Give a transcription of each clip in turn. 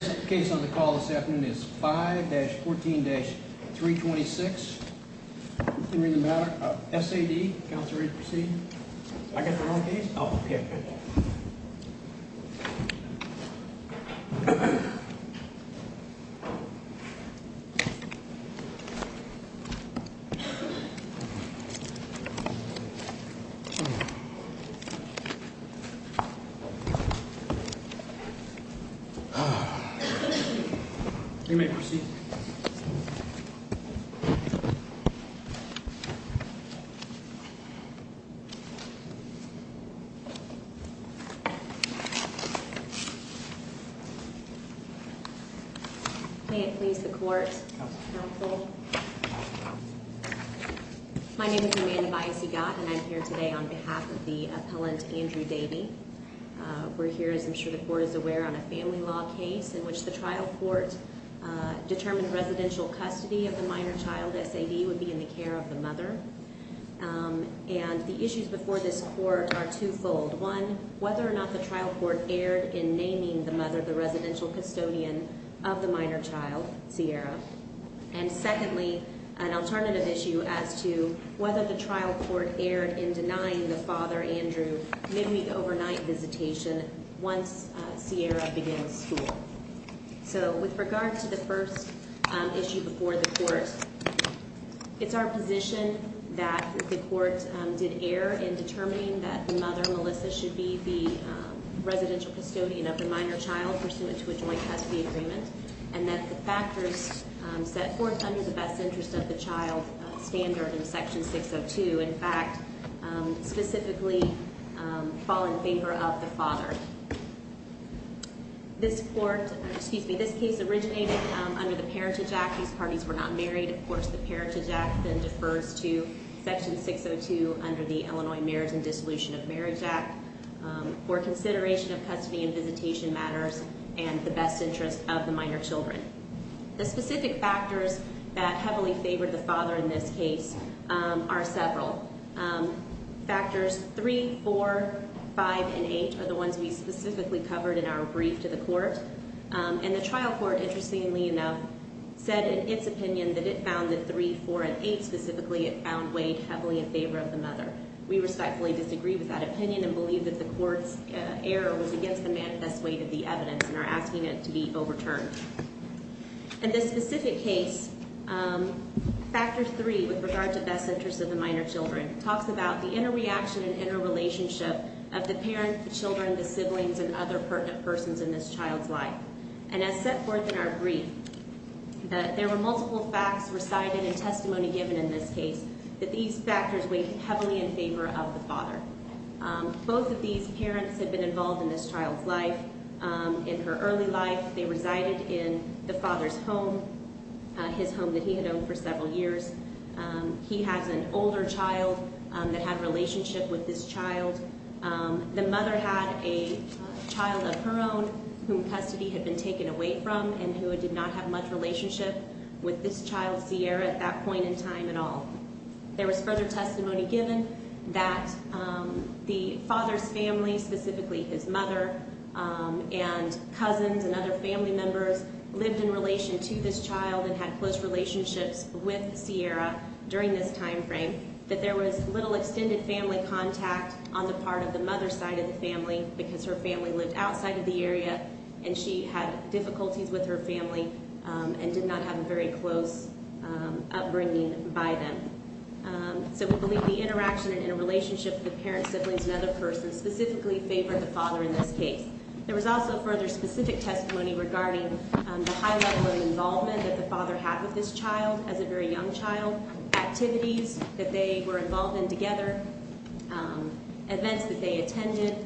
The case on the call this afternoon is 5-14-326, S.A.D., counsel ready to proceed? I got the wrong case? Oh, okay. You may proceed. May it please the court? Counsel. Counsel. My name is Amanda Biasigot and I'm here today on behalf of the appellant, Andrew Davey. We're here, as I'm sure the court is aware, on a family law case in which the trial court determined residential custody of the minor child, S.A.D., would be in the care of the mother. And the issues before this court are twofold. One, whether or not the trial court erred in naming the mother the residential custodian of the minor child, Sierra. And secondly, an alternative issue as to whether the trial court erred in denying the father, Andrew, midweek overnight visitation once Sierra begins school. So, with regard to the first issue before the court, it's our position that the court did err in determining that the mother, Melissa, should be the residential custodian of the minor child pursuant to a joint custody agreement. And that the factors set forth under the best interest of the child standard in Section 602, in fact, specifically fall in favor of the father. This case originated under the Parentage Act. These parties were not married. Of course, the Parentage Act then defers to Section 602 under the Illinois Marriage and Dissolution of Marriage Act. For consideration of custody and visitation matters and the best interest of the minor children. The specific factors that heavily favored the father in this case are several. Factors 3, 4, 5, and 8 are the ones we specifically covered in our brief to the court. And the trial court, interestingly enough, said in its opinion that it found that 3, 4, and 8, specifically, it found weighed heavily in favor of the mother. We respectfully disagree with that opinion and believe that the court's error was against the manifest weight of the evidence and are asking it to be overturned. In this specific case, factor 3, with regard to best interest of the minor children, talks about the interreaction and interrelationship of the parent, the children, the siblings, and other pertinent persons in this child's life. And as set forth in our brief, that there were multiple facts recited and testimony given in this case that these factors weighed heavily in favor of the father. Both of these parents had been involved in this child's life. In her early life, they resided in the father's home, his home that he had owned for several years. He has an older child that had a relationship with this child. The mother had a child of her own whom custody had been taken away from and who did not have much relationship with this child, Sierra, at that point in time at all. There was further testimony given that the father's family, specifically his mother and cousins and other family members, lived in relation to this child and had close relationships with Sierra during this time frame. That there was little extended family contact on the part of the mother's side of the family because her family lived outside of the area and she had difficulties with her family and did not have a very close upbringing by them. So we believe the interaction and interrelationship of the parents, siblings, and other persons specifically favored the father in this case. There was also further specific testimony regarding the high level of involvement that the father had with this child as a very young child. Activities that they were involved in together. Events that they attended.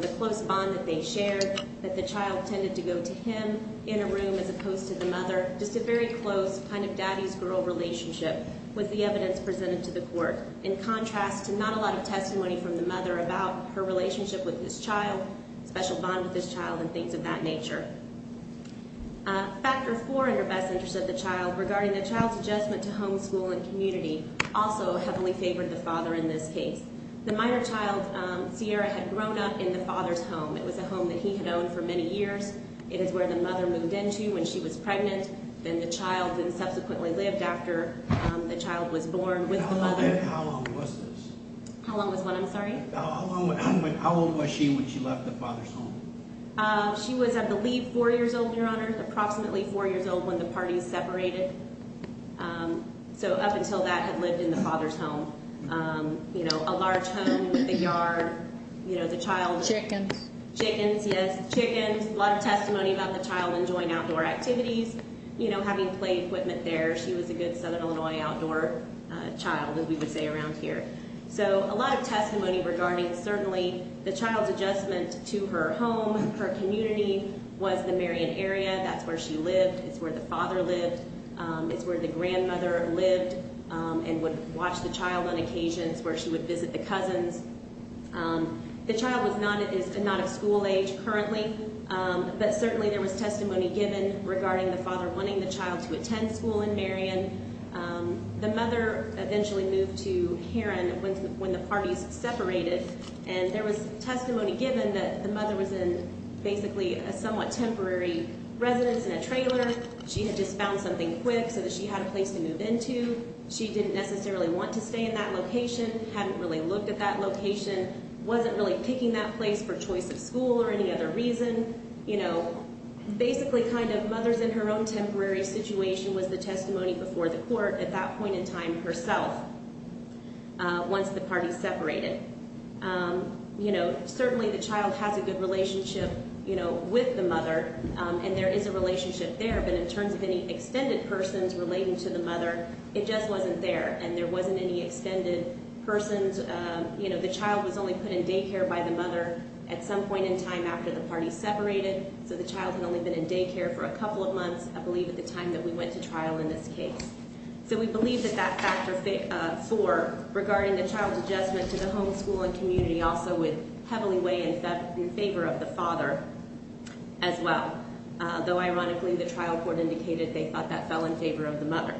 The close bond that they shared. That the child tended to go to him in a room as opposed to the mother. Just a very close kind of daddy's girl relationship with the evidence presented to the court. In contrast to not a lot of testimony from the mother about her relationship with this child, special bond with this child, and things of that nature. Factor four in her best interest of the child regarding the child's adjustment to homeschool and community also heavily favored the father in this case. The minor child, Sierra, had grown up in the father's home. It was a home that he had owned for many years. It is where the mother moved into when she was pregnant. Then the child then subsequently lived after the child was born with the mother. How long was this? How long was what? I'm sorry? How old was she when she left the father's home? She was, I believe, four years old, Your Honor. Approximately four years old when the parties separated. So up until that had lived in the father's home. You know, a large home with a yard. You know, the child. Chickens. Chickens, yes. Chickens, a lot of testimony about the child enjoying outdoor activities, you know, having play equipment there. She was a good Southern Illinois outdoor child, as we would say around here. So a lot of testimony regarding certainly the child's adjustment to her home, her community, was the Marion area. That's where she lived. It's where the father lived. It's where the grandmother lived and would watch the child on occasions where she would visit the cousins. The child is not of school age currently, but certainly there was testimony given regarding the father wanting the child to attend school in Marion. The mother eventually moved to Heron when the parties separated, and there was testimony given that the mother was in basically a somewhat temporary residence in a trailer. She had just found something quick so that she had a place to move into. She didn't necessarily want to stay in that location. Hadn't really looked at that location. Wasn't really picking that place for choice of school or any other reason. You know, basically kind of mother's in her own temporary situation was the testimony before the court at that point in time herself once the parties separated. You know, certainly the child has a good relationship, you know, with the mother, and there is a relationship there. But in terms of any extended persons relating to the mother, it just wasn't there, and there wasn't any extended persons. You know, the child was only put in daycare by the mother at some point in time after the parties separated. So the child had only been in daycare for a couple of months, I believe, at the time that we went to trial in this case. So we believe that that factor four regarding the child's adjustment to the home, school, and community also would heavily weigh in favor of the father as well. Though, ironically, the trial court indicated they thought that fell in favor of the mother.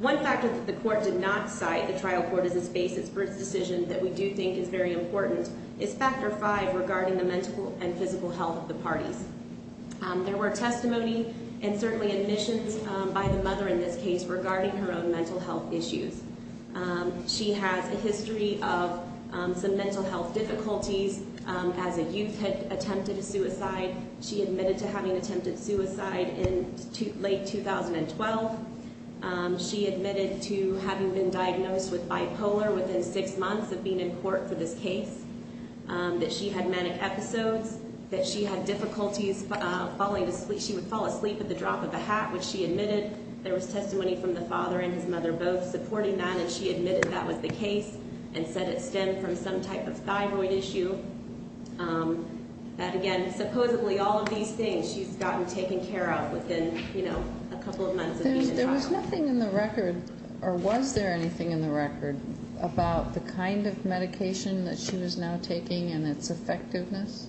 One factor that the court did not cite, the trial court as a basis for its decision that we do think is very important, is factor five regarding the mental and physical health of the parties. There were testimony and certainly admissions by the mother in this case regarding her own mental health issues. She has a history of some mental health difficulties as a youth had attempted a suicide. She admitted to having attempted suicide in late 2012. She admitted to having been diagnosed with bipolar within six months of being in court for this case, that she had manic episodes, that she had difficulties falling asleep. She would fall asleep at the drop of a hat, which she admitted. There was testimony from the father and his mother both supporting that, and she admitted that was the case and said it stemmed from some type of thyroid issue. And again, supposedly all of these things she's gotten taken care of within, you know, a couple of months of being in trial. There was nothing in the record, or was there anything in the record, about the kind of medication that she was now taking and its effectiveness?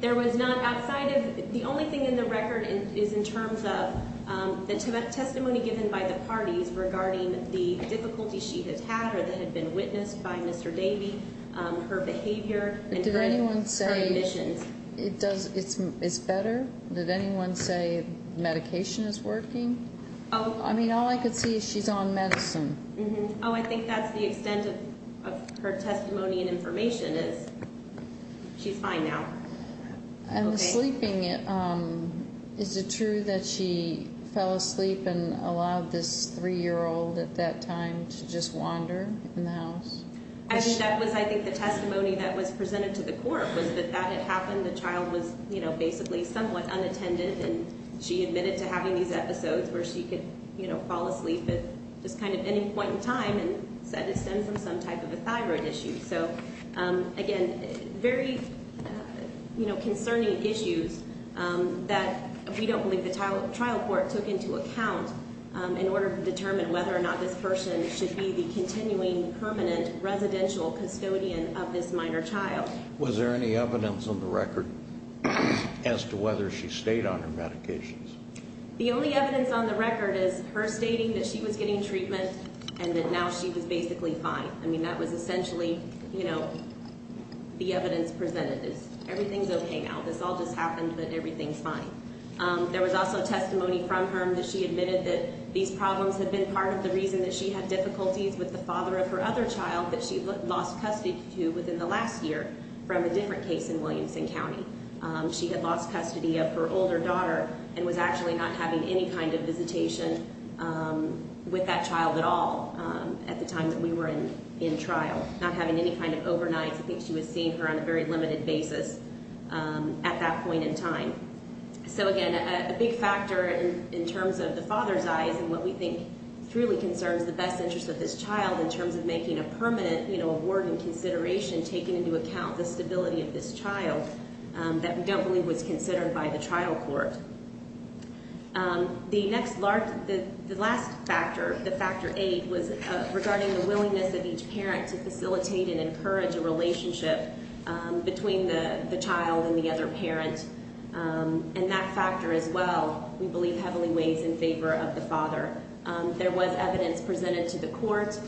There was not outside of, the only thing in the record is in terms of the testimony given by the parties regarding the difficulties she had had or that had been witnessed by Mr. Davey, her behavior and her admissions. But did anyone say, it's better? Did anyone say medication is working? Oh. I mean, all I could see is she's on medicine. Mm-hmm. Oh, I think that's the extent of her testimony and information is she's fine now. And the sleeping, is it true that she fell asleep and allowed this three-year-old at that time to just wander in the house? I think that was, I think, the testimony that was presented to the court was that that had happened. The child was, you know, basically somewhat unattended, and she admitted to having these episodes where she could, you know, fall asleep at just kind of any point in time and said it stemmed from some type of a thyroid issue. So, again, very, you know, concerning issues that we don't believe the trial court took into account in order to determine whether or not this person should be the continuing permanent residential custodian of this minor child. Was there any evidence on the record as to whether she stayed on her medications? The only evidence on the record is her stating that she was getting treatment and that now she was basically fine. I mean, that was essentially, you know, the evidence presented is everything's okay now. This all just happened, but everything's fine. There was also testimony from her that she admitted that these problems had been part of the reason that she had difficulties with the father of her other child that she lost custody to within the last year from a different case in Williamson County. She had lost custody of her older daughter and was actually not having any kind of visitation with that child at all at the time that we were in trial, not having any kind of overnight. I think she was seeing her on a very limited basis at that point in time. So, again, a big factor in terms of the father's eyes and what we think truly concerns the best interest of this child in terms of making a permanent, you know, award and consideration taken into account the stability of this child that we don't believe was considered by the trial court. The next large, the last factor, the factor eight was regarding the willingness of each parent to facilitate and encourage a relationship between the child and the other parent. And that factor as well, we believe heavily weighs in favor of the father. There was evidence presented to the court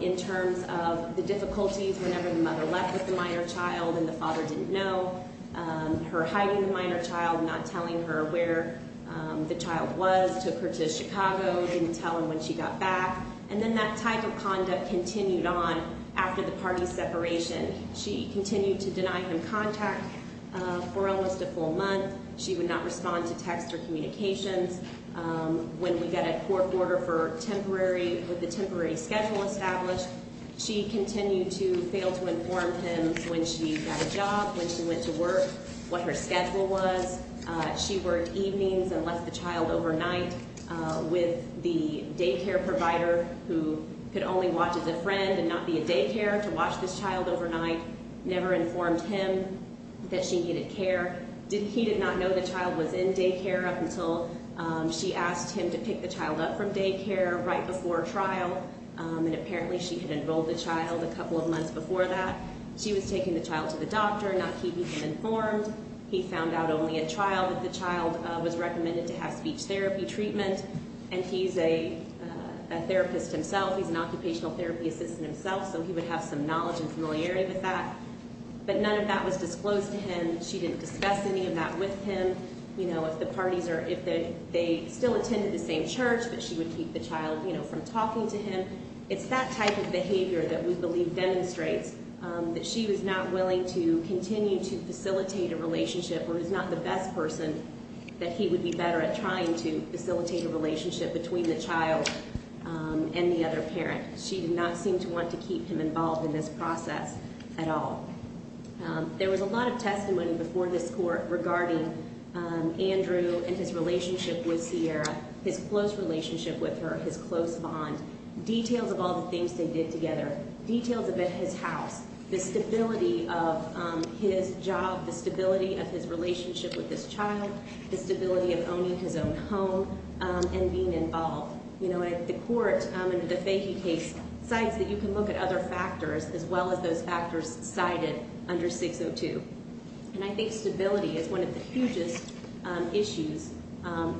in terms of the difficulties whenever the mother left with the minor child and the father didn't know, her hiding the minor child, not telling her where the child was, took her to Chicago, didn't tell him when she got back. And then that type of conduct continued on after the party's separation. She continued to deny him contact for almost a full month. She would not respond to texts or communications. When we got a court order for temporary, with the temporary schedule established, she continued to fail to inform him when she got a job, when she went to work, what her schedule was. She worked evenings and left the child overnight with the daycare provider who could only watch as a friend and not be a daycare to watch this child overnight. Never informed him that she needed care. He did not know the child was in daycare up until she asked him to pick the child up from daycare right before trial. And apparently she had enrolled the child a couple of months before that. She was taking the child to the doctor, not keeping him informed. He found out only at trial that the child was recommended to have speech therapy treatment. And he's a therapist himself. He's an occupational therapy assistant himself, so he would have some knowledge and familiarity with that. But none of that was disclosed to him. She didn't discuss any of that with him. You know, if the parties are, if they still attended the same church, that she would keep the child, you know, from talking to him. It's that type of behavior that we believe demonstrates that she was not willing to continue to facilitate a relationship or is not the best person that he would be better at trying to facilitate a relationship between the child and the other parent. She did not seem to want to keep him involved in this process at all. There was a lot of testimony before this court regarding Andrew and his relationship with Sierra, his close relationship with her, his close bond, details of all the things they did together, details about his house, the stability of his job, the stability of his relationship with this child, the stability of owning his own home, and being involved. You know, the court, under the Fahey case, decides that you can look at other factors as well as those factors cited under 602. And I think stability is one of the hugest issues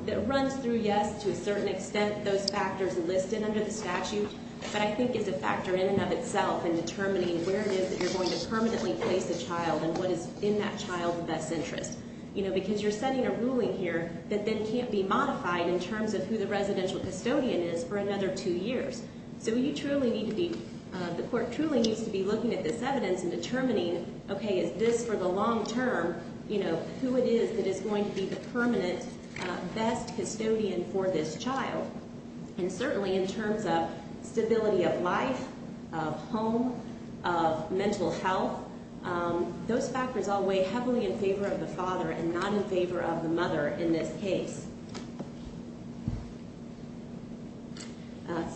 that runs through, yes, to a certain extent, those factors listed under the statute, but I think it's a factor in and of itself in determining where it is that you're going to permanently place the child and what is in that child's best interest. You know, because you're setting a ruling here that then can't be modified in terms of who the residential custodian is for another two years. So you truly need to be, the court truly needs to be looking at this evidence and determining, okay, is this for the long term, you know, who it is that is going to be the permanent best custodian for this child. And certainly in terms of stability of life, of home, of mental health, those factors all weigh heavily in favor of the father and not in favor of the mother in this case.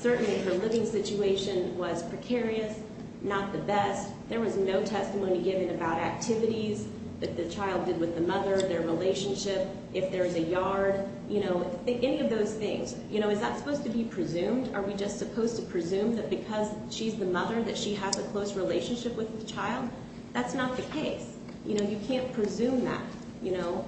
Certainly her living situation was precarious, not the best. There was no testimony given about activities that the child did with the mother, their relationship, if there's a yard. You know, any of those things. You know, is that supposed to be presumed? Are we just supposed to presume that because she's the mother that she has a close relationship with the child? That's not the case. You know, you can't presume that, you know.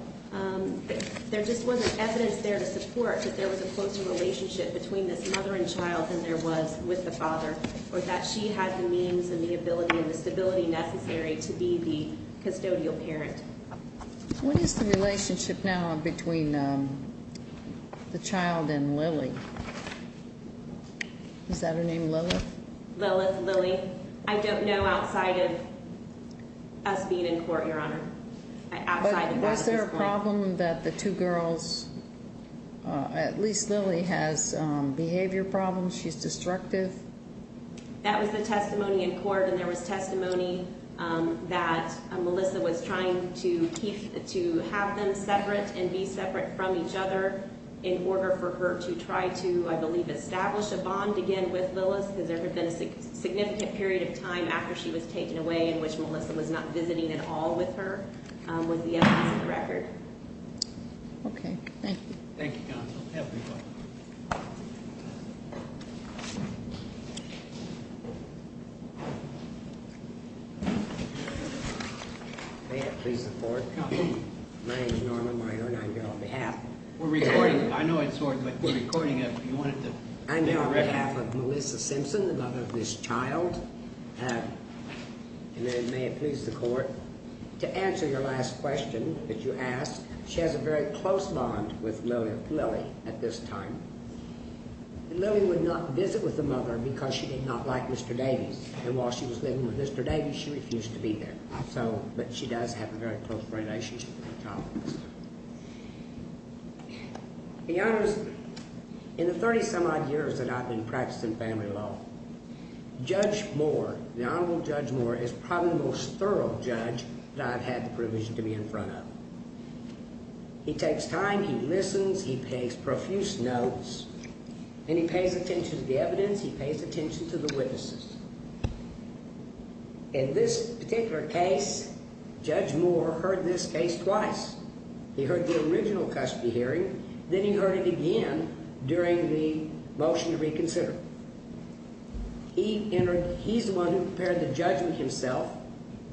There just wasn't evidence there to support that there was a close relationship between this mother and child than there was with the father or that she had the means and the ability and the stability necessary to be the custodial parent. What is the relationship now between the child and Lily? Is that her name, Lilith? Lilith, Lily. I don't know outside of us being in court, Your Honor. Outside of that at this point. But was there a problem that the two girls, at least Lily, has behavior problems? She's destructive. That was the testimony in court, and there was testimony that Melissa was trying to have them separate and be separate from each other in order for her to try to, I believe, establish a bond again with Lilith. Has there ever been a significant period of time after she was taken away in which Melissa was not visiting at all with her? Was the evidence of the record. Okay, thank you. Thank you, counsel. Have a good one. Thank you. May it please the court. Counsel. My name is Norman Minor, and I'm here on behalf. We're recording. I know it's recording, but we're recording it if you wanted to. I'm here on behalf of Melissa Simpson, the mother of this child. And may it please the court, to answer your last question that you asked, she has a very close bond with Lilith, Lily, at this time. And Lily would not visit with the mother because she did not like Mr. Davies. And while she was living with Mr. Davies, she refused to be there. But she does have a very close relationship with the child. In the 30-some-odd years that I've been practicing family law, Judge Moore, the Honorable Judge Moore, is probably the most thorough judge that I've had the privilege to be in front of. He takes time. He listens. He pays profuse notes. And he pays attention to the evidence. He pays attention to the witnesses. In this particular case, Judge Moore heard this case twice. He heard the original custody hearing. Then he heard it again during the motion to reconsider. He's the one who prepared the judgment himself,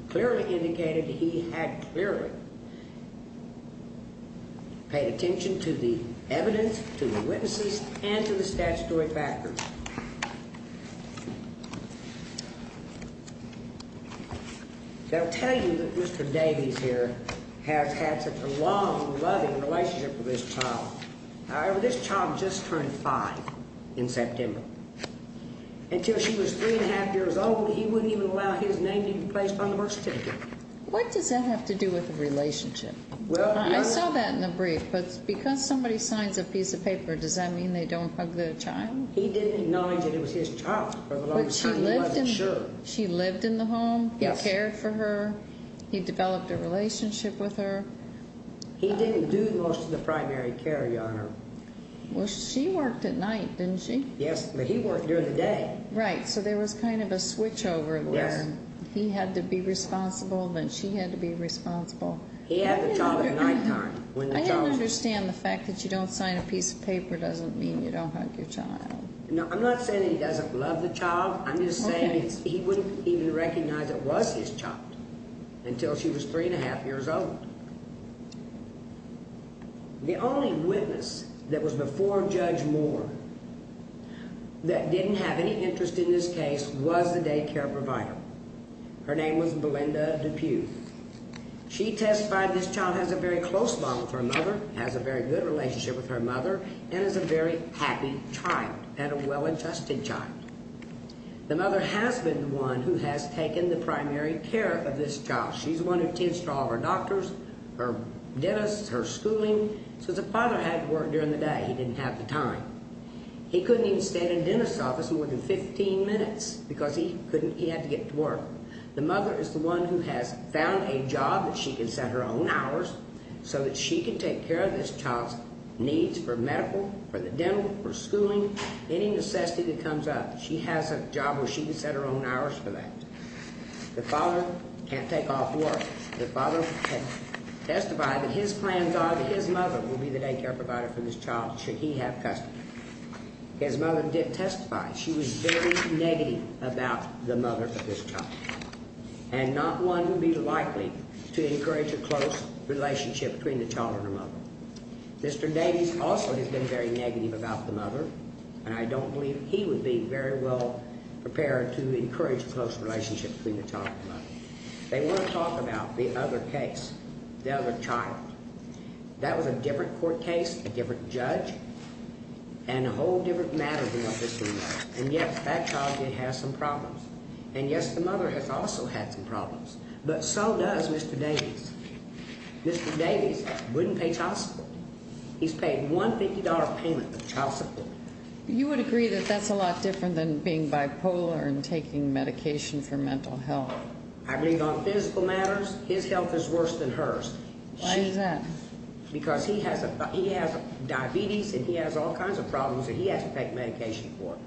clearly indicated he had clearly paid attention to the evidence, to the witnesses, and to the statutory factors. I'll tell you that Mr. Davies here has had such a long, loving relationship with this child. However, this child just turned five in September. Until she was three-and-a-half years old, he wouldn't even allow his name to be placed on the birth certificate. What does that have to do with the relationship? I saw that in the brief. But because somebody signs a piece of paper, does that mean they don't hug the child? He didn't acknowledge that it was his child for the longest time. He wasn't sure. She lived in the home? Yes. He cared for her? He developed a relationship with her? He didn't do most of the primary care, Your Honor. Well, she worked at night, didn't she? Yes, but he worked during the day. Right, so there was kind of a switchover where he had to be responsible, then she had to be responsible. He had the child at nighttime. I understand the fact that you don't sign a piece of paper doesn't mean you don't hug your child. No, I'm not saying he doesn't love the child. I'm just saying he wouldn't even recognize it was his child until she was three-and-a-half years old. The only witness that was before Judge Moore that didn't have any interest in this case was the daycare provider. Her name was Belinda DePue. She testified this child has a very close bond with her mother, has a very good relationship with her mother, and is a very happy child and a well-adjusted child. The mother has been the one who has taken the primary care of this child. She's the one who tends to all of her doctors, her dentists, her schooling. So the father had to work during the day. He didn't have the time. He couldn't even stay in the dentist's office more than 15 minutes because he had to get to work. The mother is the one who has found a job that she can set her own hours so that she can take care of this child's needs for medical, for the dental, for schooling, any necessity that comes up. She has a job where she can set her own hours for that. The father can't take off work. The father testified that his plans are that his mother will be the daycare provider for this child should he have custody. His mother didn't testify. She was very negative about the mother of this child, and not one who would be likely to encourage a close relationship between the child and her mother. Mr. Davies also has been very negative about the mother, and I don't believe he would be very well prepared to encourage a close relationship between the child and the mother. They want to talk about the other case, the other child. That was a different court case, a different judge, and a whole different matter than what this one was. And, yes, that child did have some problems. And, yes, the mother has also had some problems. But so does Mr. Davies. Mr. Davies wouldn't pay child support. He's paid $150 payment for child support. You would agree that that's a lot different than being bipolar and taking medication for mental health. I believe on physical matters, his health is worse than hers. Why is that? Because he has diabetes, and he has all kinds of problems that he has to take medication for.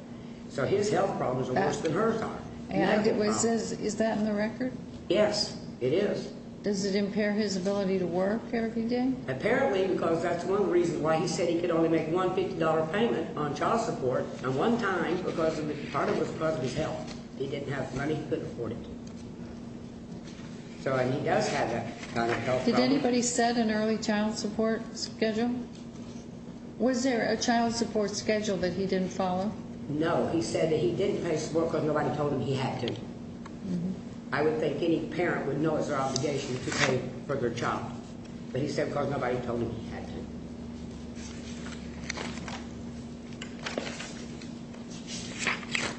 So his health problems are worse than hers are. Is that in the record? Yes, it is. Does it impair his ability to work every day? Apparently, because that's one of the reasons why he said he could only make $150 payment on child support. And one time, because part of it was because of his health, he didn't have money to afford it. So he does have that kind of health problem. Did anybody set an early child support schedule? Was there a child support schedule that he didn't follow? No. He said that he didn't pay support because nobody told him he had to. I would think any parent would know it's their obligation to pay for their child. But he said because nobody told him he had to.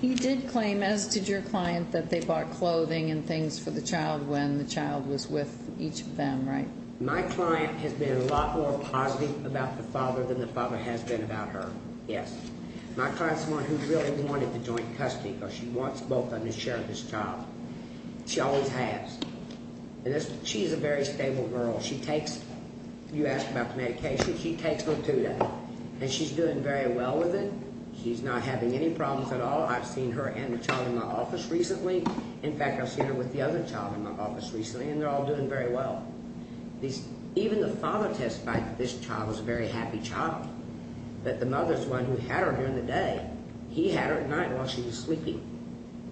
You did claim, as did your client, that they bought clothing and things for the child when the child was with each of them, right? My client has been a lot more positive about the father than the father has been about her. Yes. My client's the one who really wanted the joint custody because she wants both of them to share this child. She always has. She's a very stable girl. You asked about the medication. She takes her two days, and she's doing very well with it. She's not having any problems at all. I've seen her and the child in my office recently. In fact, I've seen her with the other child in my office recently, and they're all doing very well. Even the father testified that this child was a very happy child. But the mother's the one who had her during the day. He had her at night while she was sleeping.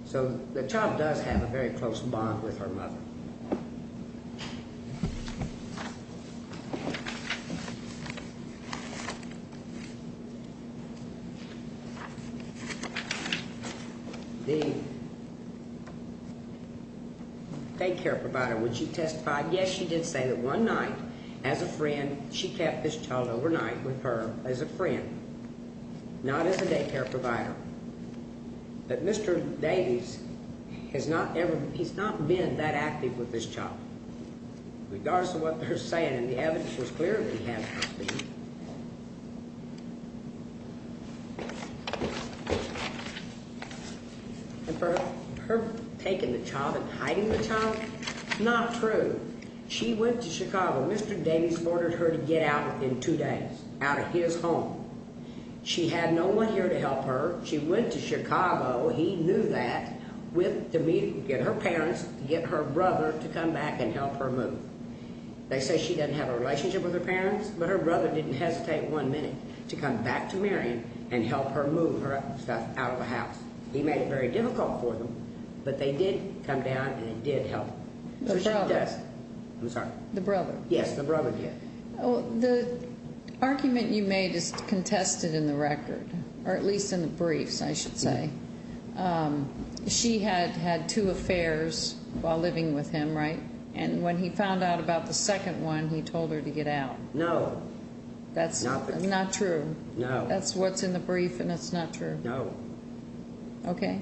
So the child does have a very close bond with her mother. The daycare provider, would she testify? Yes, she did say that one night, as a friend, she kept this child overnight with her as a friend, not as a daycare provider. But Mr. Davies, he's not been that active with this child, regardless of what they're saying. And the evidence was clear that he has been. And for her taking the child and hiding the child, not true. She went to Chicago. Mr. Davies ordered her to get out in two days, out of his home. She had no one here to help her. She went to Chicago, he knew that, to get her parents, to get her brother to come back and help her move. They say she doesn't have a relationship with her parents, but her brother didn't hesitate one minute to come back to Marion and help her move her stuff out of the house. He made it very difficult for them, but they did come down and did help. The brother? I'm sorry. The brother? Yes, the brother did. The argument you made is contested in the record, or at least in the briefs, I should say. She had had two affairs while living with him, right? And when he found out about the second one, he told her to get out. No. That's not true? No. That's what's in the brief and it's not true? No. Okay.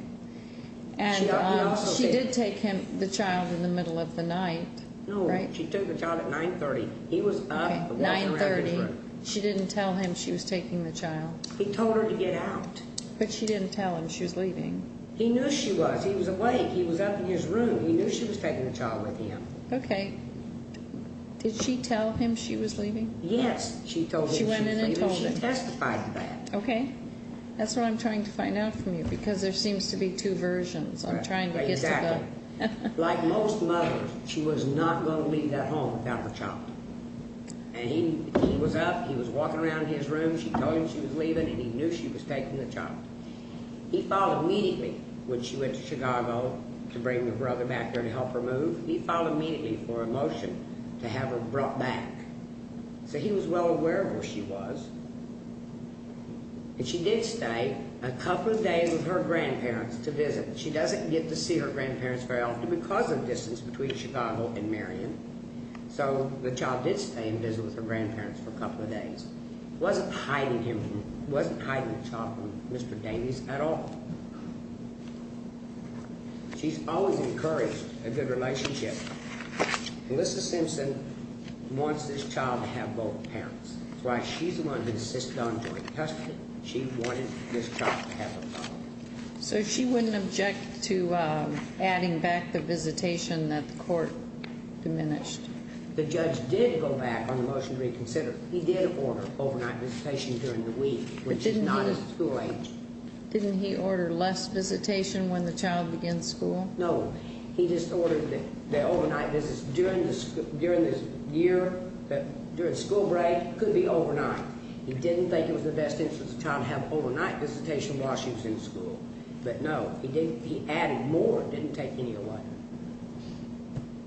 And she did take him, the child, in the middle of the night, right? No, she took the child at 9.30. He was up walking around his room. Okay, 9.30. She didn't tell him she was taking the child? He told her to get out. But she didn't tell him she was leaving. He knew she was. He was awake. He was up in his room. He knew she was taking the child with him. Okay. Did she tell him she was leaving? Yes, she told him she was leaving. She went in and told him. She testified to that. That's what I'm trying to find out from you, because there seems to be two versions. I'm trying to get to the... Exactly. Like most mothers, she was not going to leave that home without her child. And he was up. He was walking around his room. She told him she was leaving, and he knew she was taking the child. He filed immediately when she went to Chicago to bring her brother back there to help her move. He filed immediately for a motion to have her brought back. So he was well aware of where she was. And she did stay a couple of days with her grandparents to visit. She doesn't get to see her grandparents very often because of the distance between Chicago and Marion. So the child did stay and visit with her grandparents for a couple of days. Wasn't hiding the child from Mr. Davies at all. She's always encouraged a good relationship. Melissa Simpson wants this child to have both parents. That's why she's the one who insisted on joint custody. She wanted this child to have a father. So she wouldn't object to adding back the visitation that the court diminished? The judge did go back on the motion to reconsider. He did order overnight visitation during the week, which is not at school age. Didn't he order less visitation when the child begins school? No. He just ordered the overnight visitation during the school break. It could be overnight. He didn't think it was in the best interest of the child to have overnight visitation while she was in school. But, no, he added more, didn't take any away.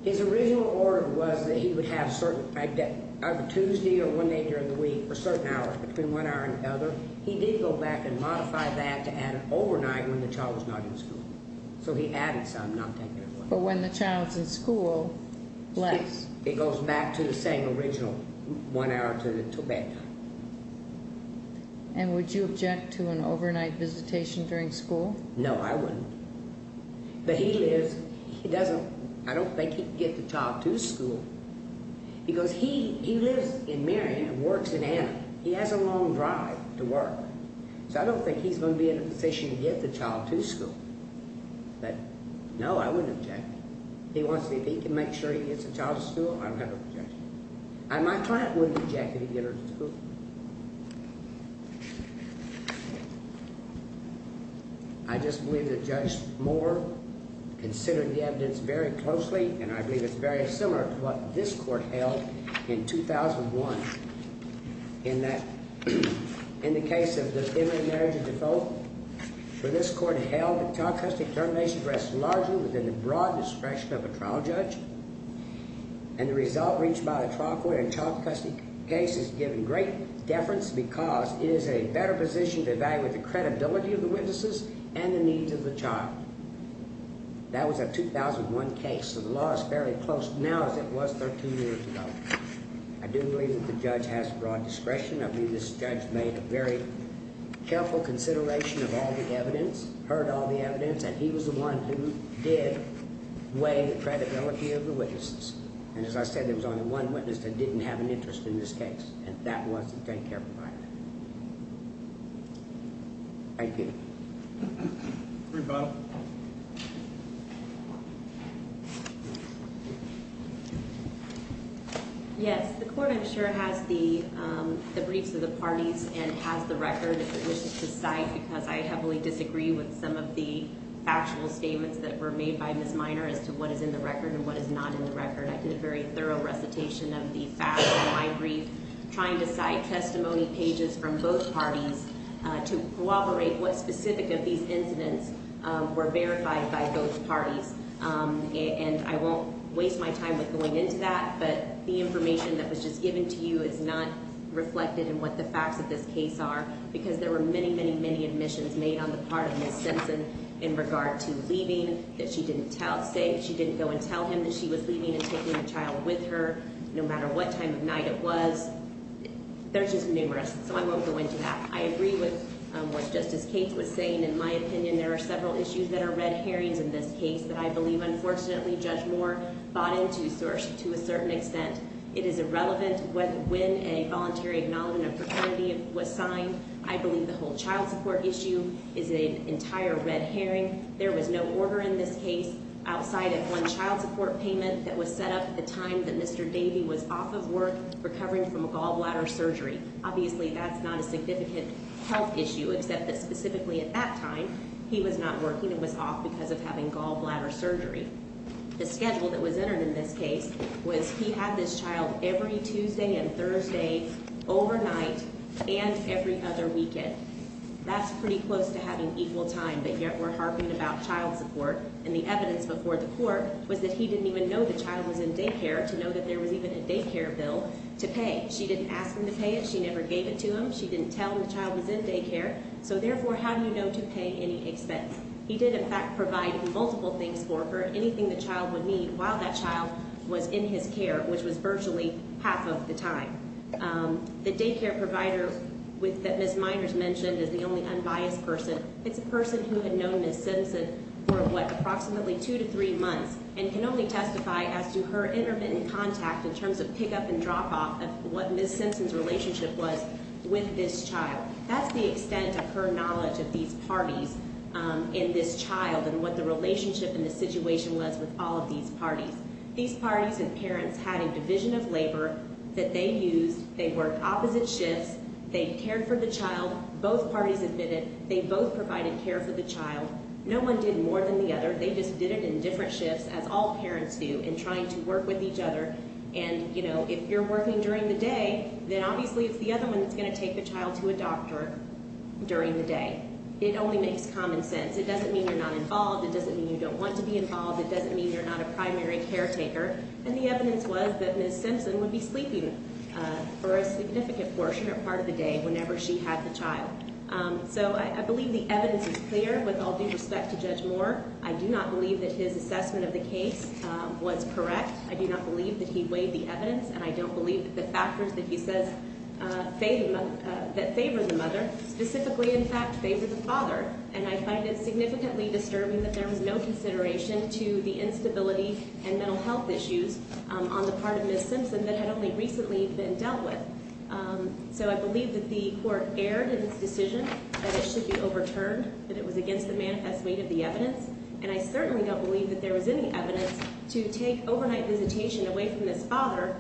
His original order was that he would have either Tuesday or one day during the week for certain hours, between one hour and the other. He did go back and modify that to add overnight when the child was not in school. So he added some, not taken away. But when the child's in school, less? It goes back to the same original one hour until bedtime. And would you object to an overnight visitation during school? No, I wouldn't. But he lives, he doesn't, I don't think he can get the child to school. Because he lives in Marion and works in Anna. He has a long drive to work. So I don't think he's going to be in a position to get the child to school. But, no, I wouldn't object. He wants to see if he can make sure he gets the child to school. I don't have an objection. My client wouldn't object if he could get her to school. I just believe that Judge Moore considered the evidence very closely. And I believe it's very similar to what this court held in 2001. In that, in the case of the immigrant marriage of default, where this court held that child custody termination rests largely within the broad discretion of a trial judge. And the result reached by the trial court in a child custody case has given great deference because it is in a better position to evaluate the credibility of the witnesses and the needs of the child. That was a 2001 case. So the law is fairly close now as it was 13 years ago. I do believe that the judge has broad discretion. I believe this judge made a very careful consideration of all the evidence, heard all the evidence, and he was the one who did weigh the credibility of the witnesses. And as I said, there was only one witness that didn't have an interest in this case, and that was the daycare provider. Thank you. Rebuttal. Yes, the court, I'm sure, has the briefs of the parties and has the record of the witnesses to cite because I heavily disagree with some of the factual statements that were made by Ms. Minor as to what is in the record and what is not in the record. I did a very thorough recitation of the facts in my brief, trying to cite testimony pages from both parties to corroborate what specific of these incidents were verified by both parties. And I won't waste my time with going into that, but the information that was just given to you is not reflected in what the facts of this case are because there were many, many, many admissions made on the part of Ms. Simpson in regard to leaving, that she didn't go and tell him that she was leaving and taking the child with her no matter what time of night it was. There's just numerous, so I won't go into that. I agree with what Justice Cates was saying. In my opinion, there are several issues that are red herrings in this case that I believe, unfortunately, Judge Moore bought into to a certain extent. It is irrelevant when a voluntary acknowledgment of profanity was signed. I believe the whole child support issue is an entire red herring. There was no order in this case outside of one child support payment that was set up at the time that Mr. Davey was off of work recovering from a gallbladder surgery. Obviously, that's not a significant health issue, except that specifically at that time, he was not working and was off because of having gallbladder surgery. The schedule that was entered in this case was he had this child every Tuesday and Thursday, overnight, and every other weekend. That's pretty close to having equal time, but yet we're harping about child support. And the evidence before the court was that he didn't even know the child was in daycare to know that there was even a daycare bill to pay. She didn't ask him to pay it. She never gave it to him. She didn't tell him the child was in daycare. So therefore, how do you know to pay any expense? He did, in fact, provide multiple things for her, anything the child would need while that child was in his care, which was virtually half of the time. The daycare provider that Ms. Miners mentioned is the only unbiased person. It's a person who had known Ms. Simpson for, what, approximately two to three months and can only testify as to her intermittent contact in terms of pick-up and drop-off of what Ms. Simpson's relationship was with this child. That's the extent of her knowledge of these parties in this child and what the relationship and the situation was with all of these parties. These parties and parents had a division of labor that they used. They worked opposite shifts. They cared for the child. Both parties admitted they both provided care for the child. No one did more than the other. They just did it in different shifts, as all parents do, in trying to work with each other. And, you know, if you're working during the day, then obviously it's the other one that's going to take the child to a doctor during the day. It only makes common sense. It doesn't mean you're not involved. It doesn't mean you don't want to be involved. It doesn't mean you're not a primary caretaker. And the evidence was that Ms. Simpson would be sleeping for a significant portion or part of the day whenever she had the child. So I believe the evidence is clear. With all due respect to Judge Moore, I do not believe that his assessment of the case was correct. I do not believe that he weighed the evidence, and I don't believe that the factors that he says favor the mother specifically, in fact, favor the father. And I find it significantly disturbing that there was no consideration to the instability and mental health issues on the part of Ms. Simpson that had only recently been dealt with. So I believe that the Court erred in its decision that it should be overturned, that it was against the manifest weight of the evidence. And I certainly don't believe that there was any evidence to take overnight visitation away from this father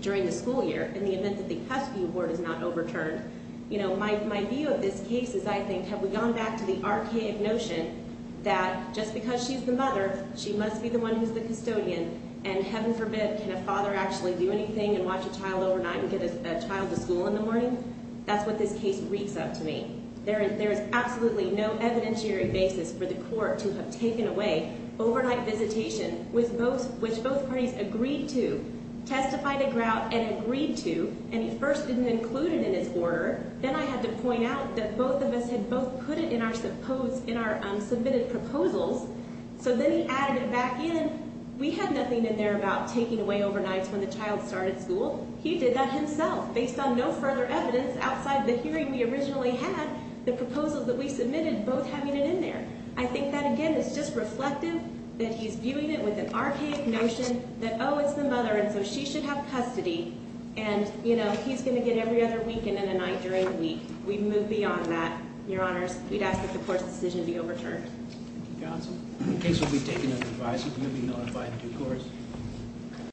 during the school year in the event that the custody award is not overturned. You know, my view of this case is, I think, have we gone back to the archaic notion that just because she's the mother, she must be the one who's the custodian, and heaven forbid, can a father actually do anything and watch a child overnight and get a child to school in the morning? That's what this case reeks up to me. There is absolutely no evidentiary basis for the Court to have taken away overnight visitation, which both parties agreed to, testified aground and agreed to. And he first didn't include it in his order. Then I had to point out that both of us had both put it in our submitted proposals. So then he added it back in. We had nothing in there about taking away overnights when the child started school. He did that himself based on no further evidence outside the hearing we originally had, the proposals that we submitted both having it in there. I think that, again, is just reflective that he's viewing it with an archaic notion that, oh, it's the mother, and so she should have custody, and, you know, he's going to get every other weekend and a night during the week. We've moved beyond that, Your Honors. We'd ask that the Court's decision be overturned. Thank you, Counsel. The case will be taken as advised. You will be notified in due course.